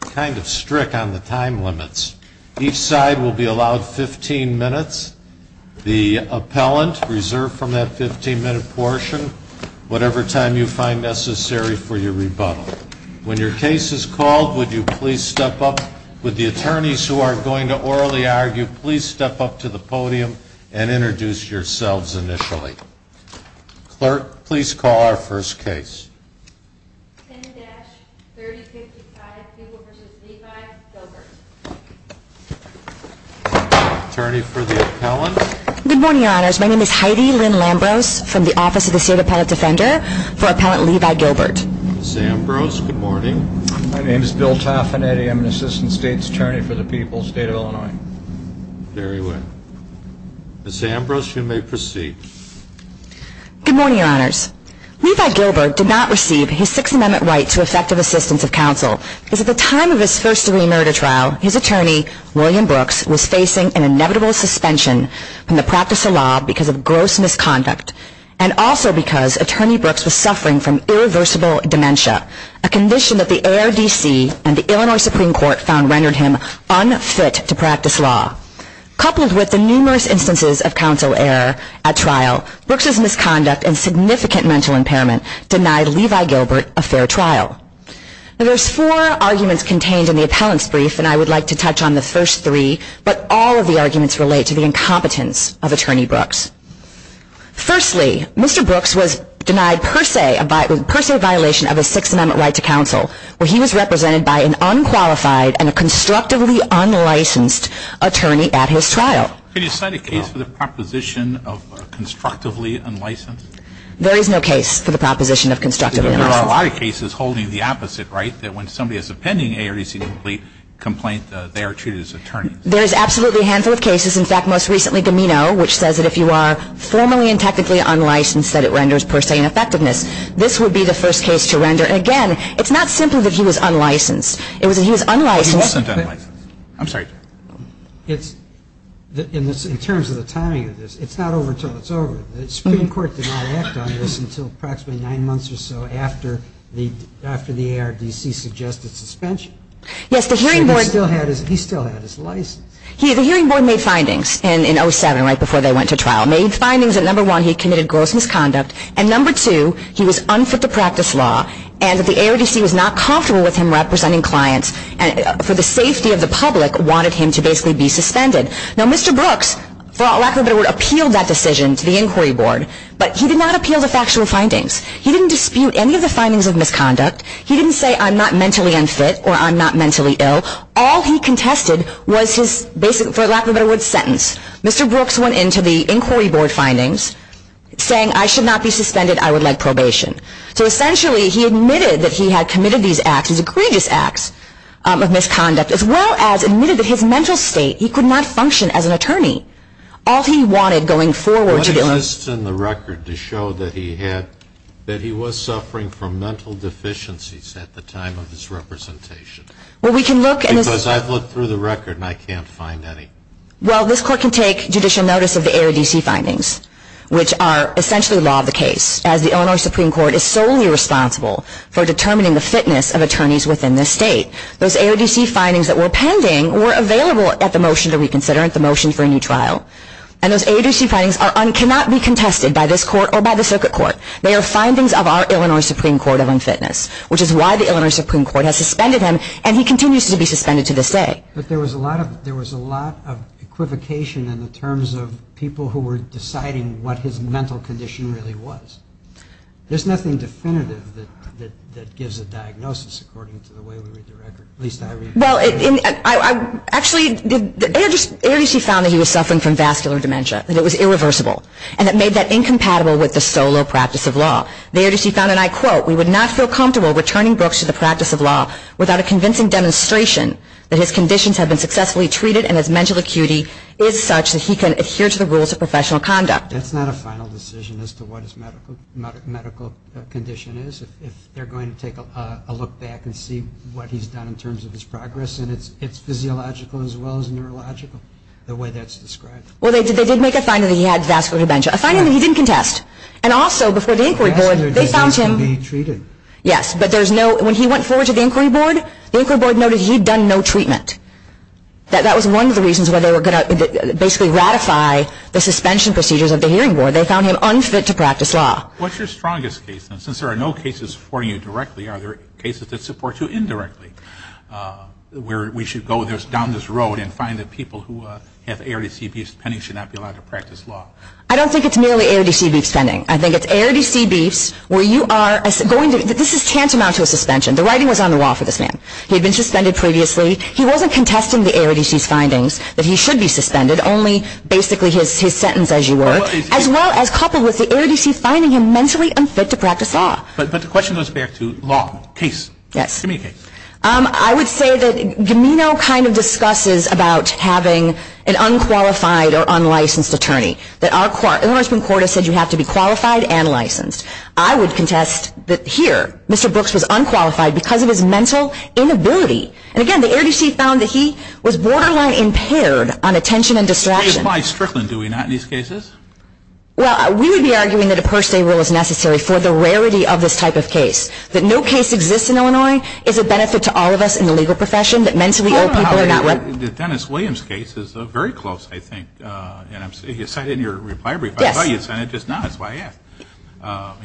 Kind of strict on the time limits. Each side will be allowed 15 minutes. The appellant, reserved from that 15 minute portion, whatever time you find necessary for your rebuttal. When your case is called, would you please step up. Would the attorneys who are going to orally argue please step up to the podium and introduce yourselves initially. Clerk, please call our first case. 10-3055 Gilbert v. Levi Gilbert Attorney for the appellant. Good morning, your honors. My name is Heidi Lynn Lambros from the Office of the State Appellate Defender for appellant Levi Gilbert. Ms. Ambrose, good morning. My name is Bill Taffanetti. I'm an assistant state attorney for the people of the state of Illinois. Very well. Ms. Ambrose, you may proceed. Good morning, your honors. Levi Gilbert did not receive his Sixth Amendment right to effective assistance of counsel. Because at the time of his first degree murder trial, his attorney, William Brooks, was facing an inevitable suspension from the practice of law because of gross misconduct. And also because Attorney Brooks was suffering from irreversible dementia. A condition that the ARDC and the Illinois Supreme Court found rendered him unfit to practice law. Coupled with the numerous instances of counsel error at trial, Brooks' misconduct and significant mental impairment denied Levi Gilbert a fair trial. There's four arguments contained in the appellant's brief, and I would like to touch on the first three. But all of the arguments relate to the incompetence of Attorney Brooks. Firstly, Mr. Brooks was denied per se a violation of his Sixth Amendment right to counsel, where he was represented by an unqualified and a constructively unlicensed attorney at his trial. Can you cite a case for the proposition of constructively unlicensed? There is no case for the proposition of constructively unlicensed. There are a lot of cases holding the opposite, right? That when somebody has a pending ARDC complaint, they are treated as attorneys. There is absolutely a handful of cases. In fact, most recently, Domino, which says that if you are formally and technically unlicensed, that it renders per se ineffectiveness. This would be the first case to render. And again, it's not simply that he was unlicensed. It was that he was unlicensed. He was sent unlicensed. I'm sorry. In terms of the timing of this, it's not over until it's over. The Supreme Court did not act on this until approximately nine months or so after the ARDC suggested suspension. Yes, the hearing board. He still had his license. The hearing board made findings in 07, right before they went to trial. Made findings that, number one, he committed gross misconduct, and number two, he was unfit to practice law, and that the ARDC was not comfortable with him representing clients for the safety of the public, wanted him to basically be suspended. Now, Mr. Brooks, for lack of a better word, appealed that decision to the inquiry board, but he did not appeal the factual findings. He didn't dispute any of the findings of misconduct. He didn't say, I'm not mentally unfit or I'm not mentally ill. All he contested was his, for lack of a better word, sentence. Mr. Brooks went into the inquiry board findings saying, I should not be suspended. I would like probation. So, essentially, he admitted that he had committed these acts, these egregious acts of misconduct, as well as admitted that his mental state, he could not function as an attorney. All he wanted going forward to do was- What exists in the record to show that he had, that he was suffering from mental deficiencies at the time of his representation? Well, we can look- Because I've looked through the record and I can't find any. Well, this court can take judicial notice of the AODC findings, which are essentially law of the case, as the Illinois Supreme Court is solely responsible for determining the fitness of attorneys within this state. Those AODC findings that were pending were available at the motion to reconsider, at the motion for a new trial. And those AODC findings cannot be contested by this court or by the circuit court. They are findings of our Illinois Supreme Court of unfitness, which is why the Illinois Supreme Court has suspended him, and he continues to be suspended to this day. But there was a lot of, there was a lot of equivocation in the terms of people who were deciding what his mental condition really was. There's nothing definitive that gives a diagnosis according to the way we read the record, at least I read the record. Well, actually, the AODC found that he was suffering from vascular dementia, that it was irreversible. And it made that incompatible with the solo practice of law. The AODC found, and I quote, we would not feel comfortable returning Brooks to the practice of law without a convincing demonstration that his conditions have been successfully treated and his mental acuity is such that he can adhere to the rules of professional conduct. That's not a final decision as to what his medical condition is. If they're going to take a look back and see what he's done in terms of his progress, and it's physiological as well as neurological, the way that's described. Well, they did make a finding that he had vascular dementia, a finding that he didn't contest. And also, before the Inquiry Board, they found him. Yes, but there's no, when he went forward to the Inquiry Board, the Inquiry Board noted he'd done no treatment. That was one of the reasons why they were going to basically ratify the suspension procedures of the Hearing Board. They found him unfit to practice law. What's your strongest case? And since there are no cases for you directly, are there cases that support you indirectly, where we should go down this road and find that people who have AODC beef spending should not be allowed to practice law? I don't think it's merely AODC beef spending. I think it's AODC beefs where you are going to, this is tantamount to a suspension. The writing was on the wall for this man. He had been suspended previously. He wasn't contesting the AODC's findings that he should be suspended, only basically his sentence as you were, as well as coupled with the AODC finding him mentally unfit to practice law. But the question goes back to law. Case. Yes. Give me a case. I would say that Gamino kind of discusses about having an unqualified or unlicensed attorney. The Illinois Supreme Court has said you have to be qualified and licensed. I would contest that here, Mr. Brooks was unqualified because of his mental inability. And again, the AODC found that he was borderline impaired on attention and distraction. Do we apply Strickland? Do we not in these cases? Well, we would be arguing that a per se rule is necessary for the rarity of this type of case. That no case exists in Illinois is a benefit to all of us in the legal profession. That mentally ill people are not liable. The Dennis Williams case is very close, I think. You cited in your reply brief. I thought you said it just now. That's why I asked.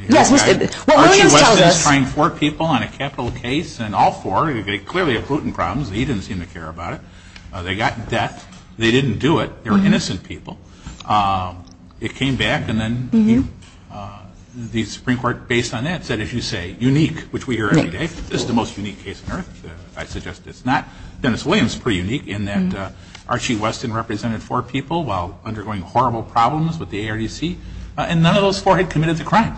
Yes. Well, Williams tells us. Archie Weston is trying four people on a capital case, and all four clearly have prudent problems. He didn't seem to care about it. They got death. They didn't do it. They were innocent people. It came back, and then the Supreme Court, based on that, said, as you say, unique, which we hear every day. This is the most unique case on earth. I suggest it's not. Dennis Williams is pretty unique in that Archie Weston represented four people while undergoing horrible problems with the AODC, and none of those four had committed the crime,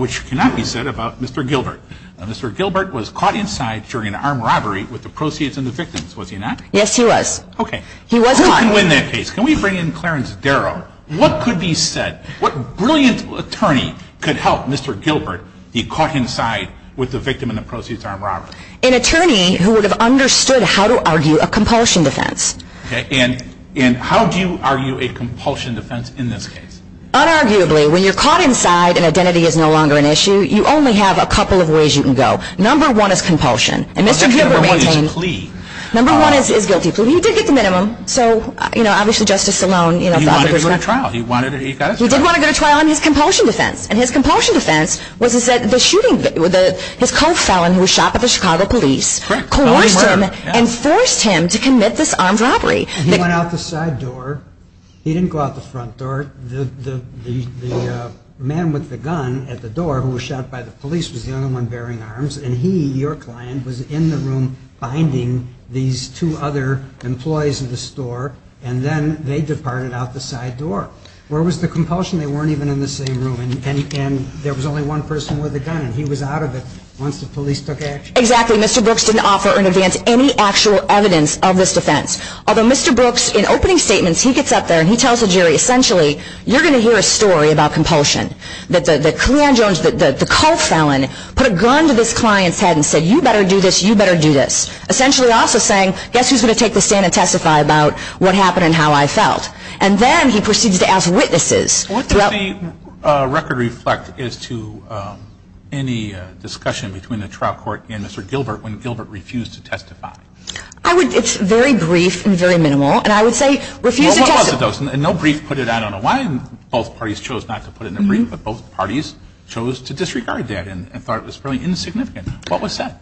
which cannot be said about Mr. Gilbert. Mr. Gilbert was caught inside during an armed robbery with the proceeds and the victims, was he not? Yes, he was. Okay. He was caught. We can win that case. Can we bring in Clarence Darrow? What could be said? What brilliant attorney could help Mr. Gilbert be caught inside with the victim and the proceeds of an armed robbery? An attorney who would have understood how to argue a compulsion defense. Okay. And how do you argue a compulsion defense in this case? Unarguably, when you're caught inside and identity is no longer an issue, you only have a couple of ways you can go. Number one is compulsion. And Mr. Gilbert maintained. Number one is plea. Number one is guilty plea. He did get the minimum. So, you know, obviously Justice Sloan, you know. He wanted to go to trial. He got his trial. He did want to go to trial on his compulsion defense. And his compulsion defense was that the shooting, his co-felon who was shot by the Chicago police, coerced him and forced him to commit this armed robbery. He went out the side door. He didn't go out the front door. The man with the gun at the door who was shot by the police was the only one bearing arms. And he, your client, was in the room binding these two other employees in the store. And then they departed out the side door. Where was the compulsion? They weren't even in the same room. And there was only one person with a gun. And he was out of it once the police took action. Exactly. Mr. Brooks didn't offer in advance any actual evidence of this defense. Although Mr. Brooks, in opening statements, he gets up there and he tells the jury, essentially, you're going to hear a story about compulsion. That the client Jones, the co-felon, put a gun to this client's head and said, you better do this, you better do this. Essentially also saying, guess who's going to take the stand and testify about what happened and how I felt. And then he proceeds to ask witnesses. What does the record reflect as to any discussion between the trial court and Mr. Gilbert when Gilbert refused to testify? And I would say refuse to testify. No brief put it out. I don't know why both parties chose not to put it in the brief, but both parties chose to disregard that and thought it was fairly insignificant. What was said?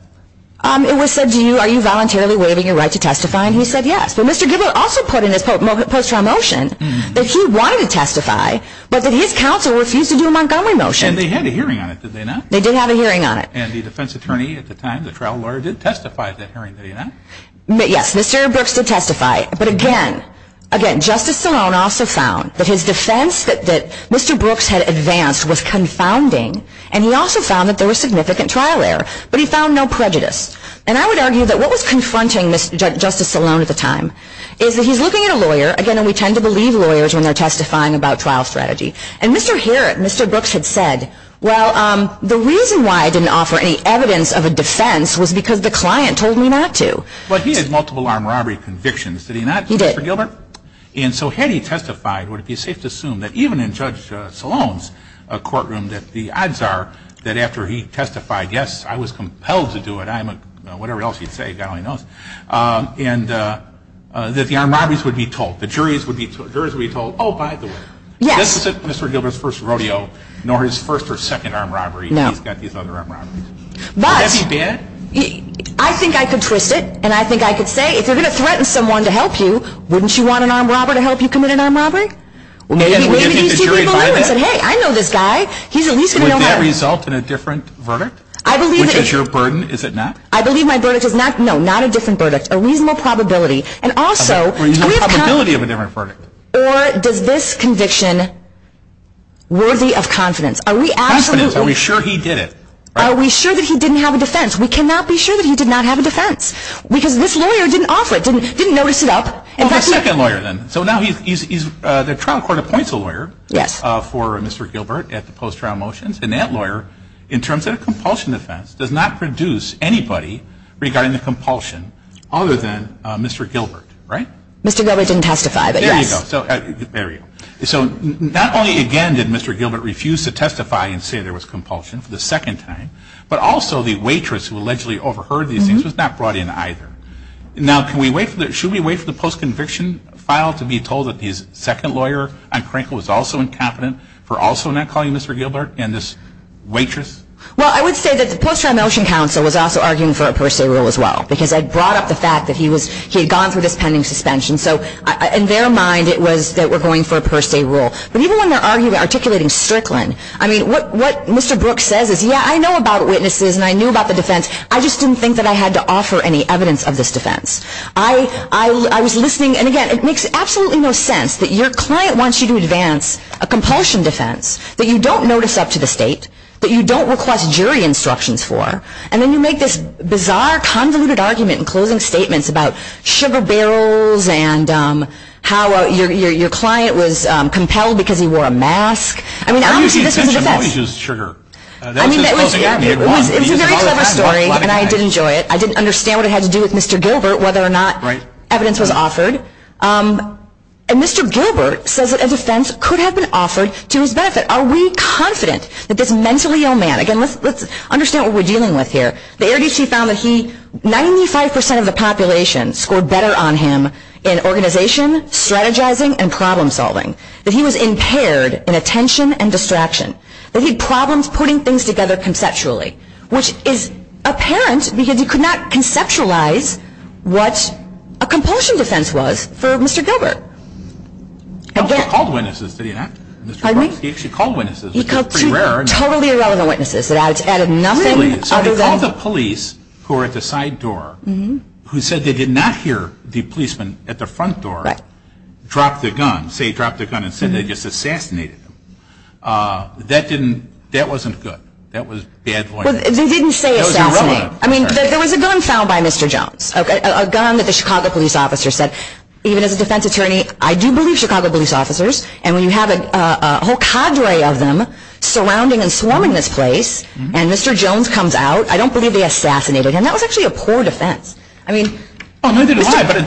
It was said, are you voluntarily waiving your right to testify? And he said yes. But Mr. Gilbert also put in his post-trial motion that he wanted to testify, but that his counsel refused to do a Montgomery motion. And they had a hearing on it, did they not? They did have a hearing on it. And the defense attorney at the time, the trial lawyer, did testify at that hearing, did he not? Yes, Mr. Brooks did testify. But again, Justice Salone also found that his defense that Mr. Brooks had advanced was confounding, and he also found that there was significant trial error, but he found no prejudice. And I would argue that what was confronting Justice Salone at the time is that he's looking at a lawyer, again, and we tend to believe lawyers when they're testifying about trial strategy, and Mr. Brooks had said, well, the reason why I didn't offer any evidence of a defense was because the client told me not to. But he had multiple armed robbery convictions, did he not, Mr. Gilbert? He did. And so had he testified, would it be safe to assume that even in Judge Salone's courtroom, that the odds are that after he testified, yes, I was compelled to do it, I'm a, whatever else he'd say, God only knows, and that the armed robberies would be told, the juries would be told, oh, by the way, this isn't Mr. Gilbert's first rodeo, nor his first or second armed robbery. No. He's got these other armed robberies. Would that be bad? I think I could twist it, and I think I could say, if you're going to threaten someone to help you, wouldn't you want an armed robber to help you commit an armed robbery? Maybe he's too good of a lawyer and said, hey, I know this guy. He's at least going to know how. Would that result in a different verdict, which is your burden, is it not? I believe my verdict is not, no, not a different verdict. A reasonable probability. A reasonable probability of a different verdict. Or does this conviction worthy of confidence? Confidence. Are we sure he did it? Are we sure that he didn't have a defense? We cannot be sure that he did not have a defense, because this lawyer didn't offer it, didn't notice it up. Well, the second lawyer then. So now the trial court appoints a lawyer for Mr. Gilbert at the post-trial motions, and that lawyer, in terms of a compulsion defense, does not produce anybody regarding the compulsion other than Mr. Gilbert, right? Mr. Gilbert didn't testify, but yes. There you go. So not only, again, did Mr. Gilbert refuse to testify and say there was compulsion, the second time, but also the waitress who allegedly overheard these things was not brought in either. Now, should we wait for the post-conviction file to be told that the second lawyer on Krinkle was also incompetent for also not calling Mr. Gilbert and this waitress? Well, I would say that the post-trial motion counsel was also arguing for a per se rule as well, because I brought up the fact that he had gone through this pending suspension, so in their mind it was that we're going for a per se rule. But even when they're articulating Strickland, I mean, what Mr. Brooks says is, yeah, I know about witnesses and I knew about the defense, I just didn't think that I had to offer any evidence of this defense. I was listening, and again, it makes absolutely no sense that your client wants you to advance a compulsion defense that you don't notice up to the state, that you don't request jury instructions for, and then you make this bizarre convoluted argument in closing statements about sugar barrels and how your client was compelled because he wore a mask. I mean, honestly, this was a defense. I mean, it was a very clever story, and I did enjoy it. I didn't understand what it had to do with Mr. Gilbert, whether or not evidence was offered. And Mr. Gilbert says that a defense could have been offered to his benefit. Are we confident that this mentally ill man, again, let's understand what we're dealing with here. The Air D.C. found that 95 percent of the population scored better on him in organization, strategizing, and problem solving, that he was impaired in attention and distraction, that he had problems putting things together conceptually, which is apparent because he could not conceptualize what a compulsion defense was for Mr. Gilbert. He also called witnesses, did he not? Pardon me? He actually called witnesses, which is pretty rare. He called two totally irrelevant witnesses that added nothing other than the police who were at the side door who said they did not hear the policeman at the front door drop the gun. Say he dropped the gun and said they just assassinated him. That didn't, that wasn't good. That was bad voicing. They didn't say assassinate. I mean, there was a gun found by Mr. Jones, a gun that the Chicago police officer said, even as a defense attorney, I do believe Chicago police officers, and when you have a whole cadre of them surrounding and swarming this place, and Mr. Jones comes out, I don't believe they assassinated him. That was actually a poor defense. That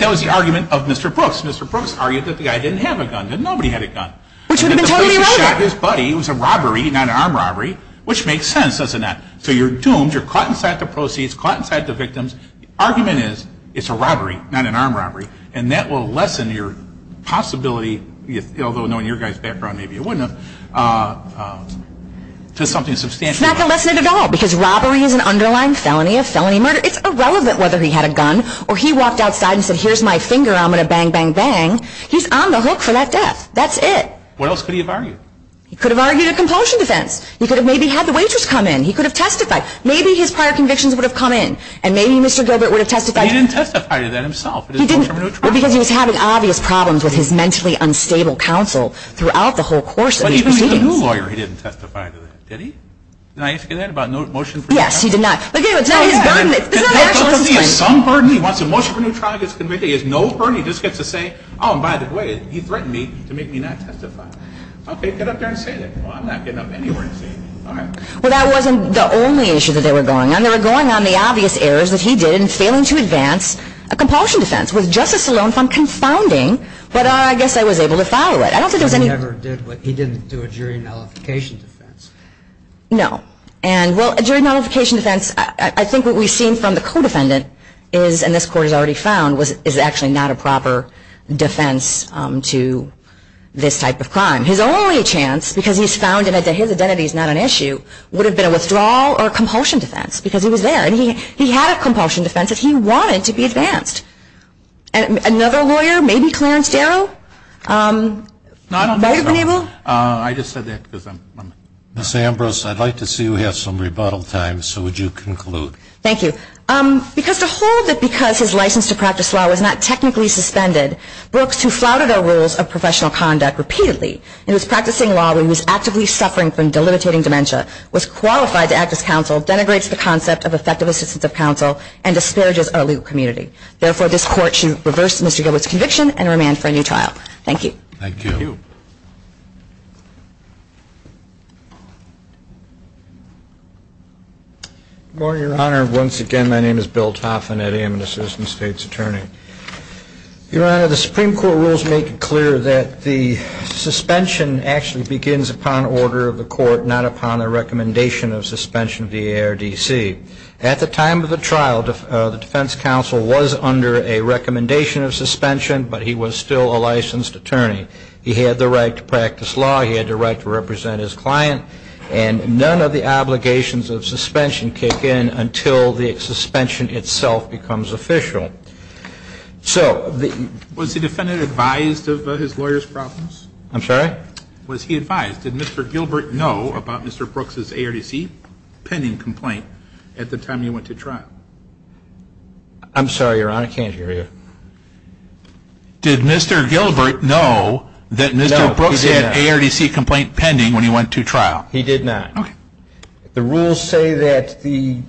was the argument of Mr. Brooks. Mr. Brooks argued that the guy didn't have a gun. Nobody had a gun. Which would have been totally irrelevant. He shot his buddy. It was a robbery, not an armed robbery, which makes sense, doesn't it? So you're doomed. You're caught inside the proceeds, caught inside the victims. The argument is it's a robbery, not an armed robbery, and that will lessen your possibility, although knowing your guy's background, maybe it wouldn't have, to something substantial. It's not going to lessen it at all, because robbery is an underlying felony. A felony murder, it's irrelevant whether he had a gun or he walked outside and said, here's my finger, I'm going to bang, bang, bang. He's on the hook for that death. That's it. What else could he have argued? He could have argued a compulsion defense. He could have maybe had the waitress come in. He could have testified. Maybe his prior convictions would have come in, and maybe Mr. Gilbert would have testified. He didn't testify to that himself. He didn't. Well, because he was having obvious problems with his mentally unstable counsel throughout the whole course of these proceedings. He had a new lawyer. He didn't testify to that. Did he? Did I ask you that? About no motion for new trial? Yes, he did not. It's not his burden. It's not an actual complaint. It's not because he has some burden. He wants a motion for new trial. He gets convicted. He has no burden. He just gets to say, oh, and by the way, he threatened me to make me not testify. Okay, get up there and say that. Well, I'm not getting up anywhere and say that. All right. Well, that wasn't the only issue that they were going on. They were going on the obvious errors that he did in failing to advance a compulsion defense with Justice Sloan found confounding, but I guess I was able to follow it. He didn't do a jury nullification defense. No. And well, a jury nullification defense, I think what we've seen from the co-defendant is, and this Court has already found, is actually not a proper defense to this type of crime. His only chance, because he's found it that his identity is not an issue, would have been a withdrawal or a compulsion defense because he was there. And he had a compulsion defense that he wanted to be advanced. Another lawyer, maybe Clarence Darrow? No, I don't know. Have you been able? I just said that because I'm. Ms. Ambrose, I'd like to see we have some rebuttal time, so would you conclude? Thank you. Because to hold that because his license to practice law was not technically suspended, Brooks, who flouted our rules of professional conduct repeatedly, and was practicing law when he was actively suffering from delimitating dementia, was qualified to act as counsel, denigrates the concept of effective assistance of counsel, and disparages our legal community. Therefore, this Court should reverse Mr. Gilbert's conviction and remand for a new trial. Thank you. Thank you. Good morning, Your Honor. Once again, my name is Bill Toffin. I am an assistant state's attorney. Your Honor, the Supreme Court rules make it clear that the suspension actually begins upon order of the court, not upon a recommendation of suspension via ARDC. At the time of the trial, the defense counsel was under a recommendation of suspension, but he was still a licensed attorney. He had the right to practice law. He had the right to represent his client. And none of the obligations of suspension kick in until the suspension itself becomes official. So the ---- Was the defendant advised of his lawyer's problems? I'm sorry? Was he advised? Did Mr. Gilbert know about Mr. Brooks' ARDC pending complaint? At the time you went to trial. I'm sorry, Your Honor, I can't hear you. Did Mr. Gilbert know that Mr. Brooks had an ARDC complaint pending when he went to trial? He did not. Okay. The rules say that the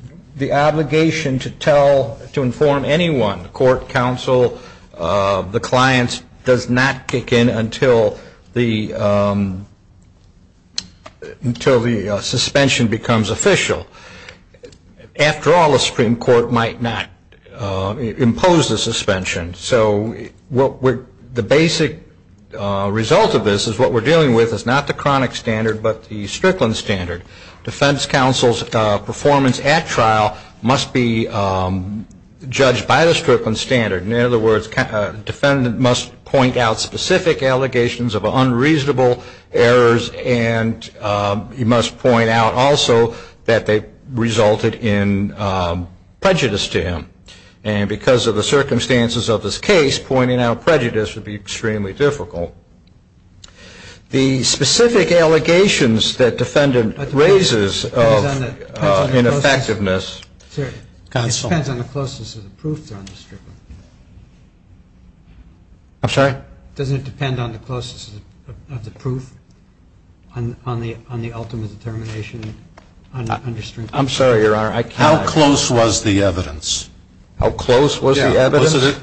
obligation to tell, to inform anyone, the court counsel, the clients, does not kick in until the suspension becomes official. After all, the Supreme Court might not impose the suspension. So the basic result of this is what we're dealing with is not the chronic standard but the Strickland standard. Defense counsel's performance at trial must be judged by the Strickland standard. In other words, defendant must point out specific allegations of unreasonable errors and he must point out also that they resulted in prejudice to him. And because of the circumstances of this case, pointing out prejudice would be extremely difficult. The specific allegations that defendant raises of ineffectiveness ---- It depends on the closeness of the proofs on the Strickland. I'm sorry? Doesn't it depend on the closeness of the proof on the ultimate determination? I'm sorry, Your Honor. How close was the evidence? How close was the evidence?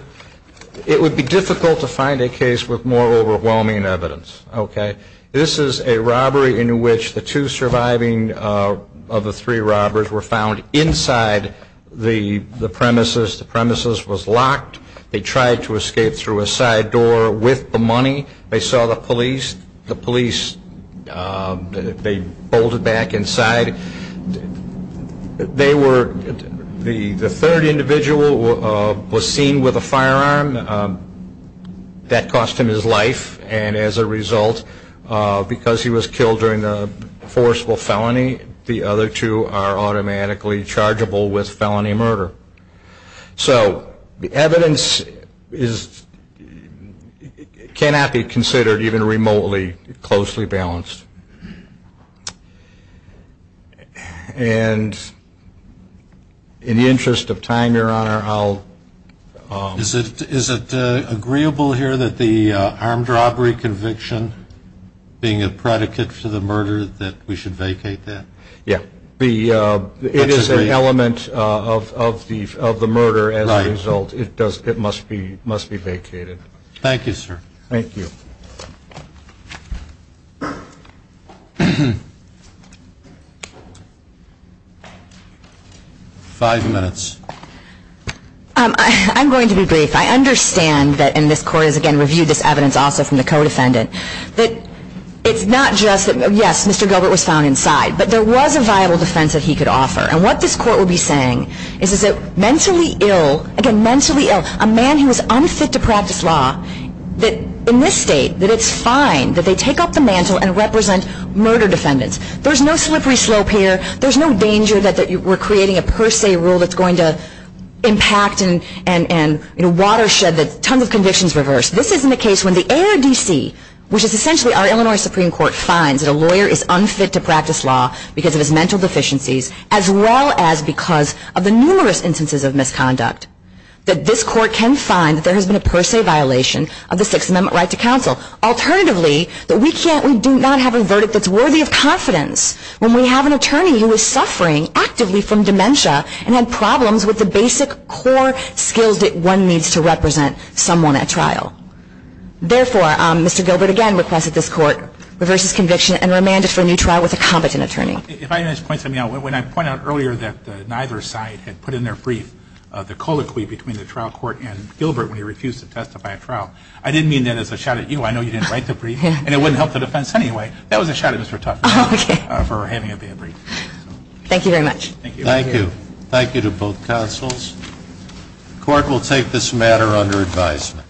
It would be difficult to find a case with more overwhelming evidence. Okay? This is a robbery in which the two surviving of the three robbers were found inside the premises. The premises was locked. They tried to escape through a side door with the money. They saw the police. The police, they bolted back inside. They were, the third individual was seen with a firearm. That cost him his life. And as a result, because he was killed during the forcible felony, the other two are automatically chargeable with felony murder. So the evidence cannot be considered even remotely closely balanced. And in the interest of time, Your Honor, I'll ---- Is it agreeable here that the armed robbery conviction being a predicate for the murder, that we should vacate that? Yeah. It is an element of the murder as a result. It must be vacated. Thank you, sir. Thank you. Five minutes. I'm going to be brief. I understand that, and this Court has, again, reviewed this evidence also from the co-defendant, that it's not just that, yes, Mr. Gilbert was found inside, but there was a viable defense that he could offer. And what this Court will be saying is that mentally ill, again, mentally ill, a man who was unfit to practice law, that in this state, that it's fine, that they take up the mantle and represent murder defendants. There's no slippery slope here. There's no danger that we're creating a per se rule that's going to impact and watershed that tons of convictions reverse. This isn't a case when the ARDC, which is essentially our Illinois Supreme Court, finds that a lawyer is unfit to practice law because of his mental deficiencies as well as because of the numerous instances of misconduct, that this Court can find that there has been a per se violation of the Sixth Amendment right to counsel. Alternatively, that we do not have a verdict that's worthy of confidence when we have an attorney who is suffering actively from dementia and had problems with the basic core skills that one needs to represent someone at trial. Therefore, Mr. Gilbert, again, requests that this Court reverse his conviction and remand it for a new trial with a competent attorney. If I may just point something out, when I point out earlier that neither side had put in their brief the colloquy between the trial court and Gilbert when he refused to testify at trial, I didn't mean that as a shout at you. I know you didn't write the brief, and it wouldn't help the defense anyway. That was a shout at Mr. Tucker for having a bad brief. Thank you very much. Thank you. Thank you. Thank you to both counsels. The Court will take this matter under advisement.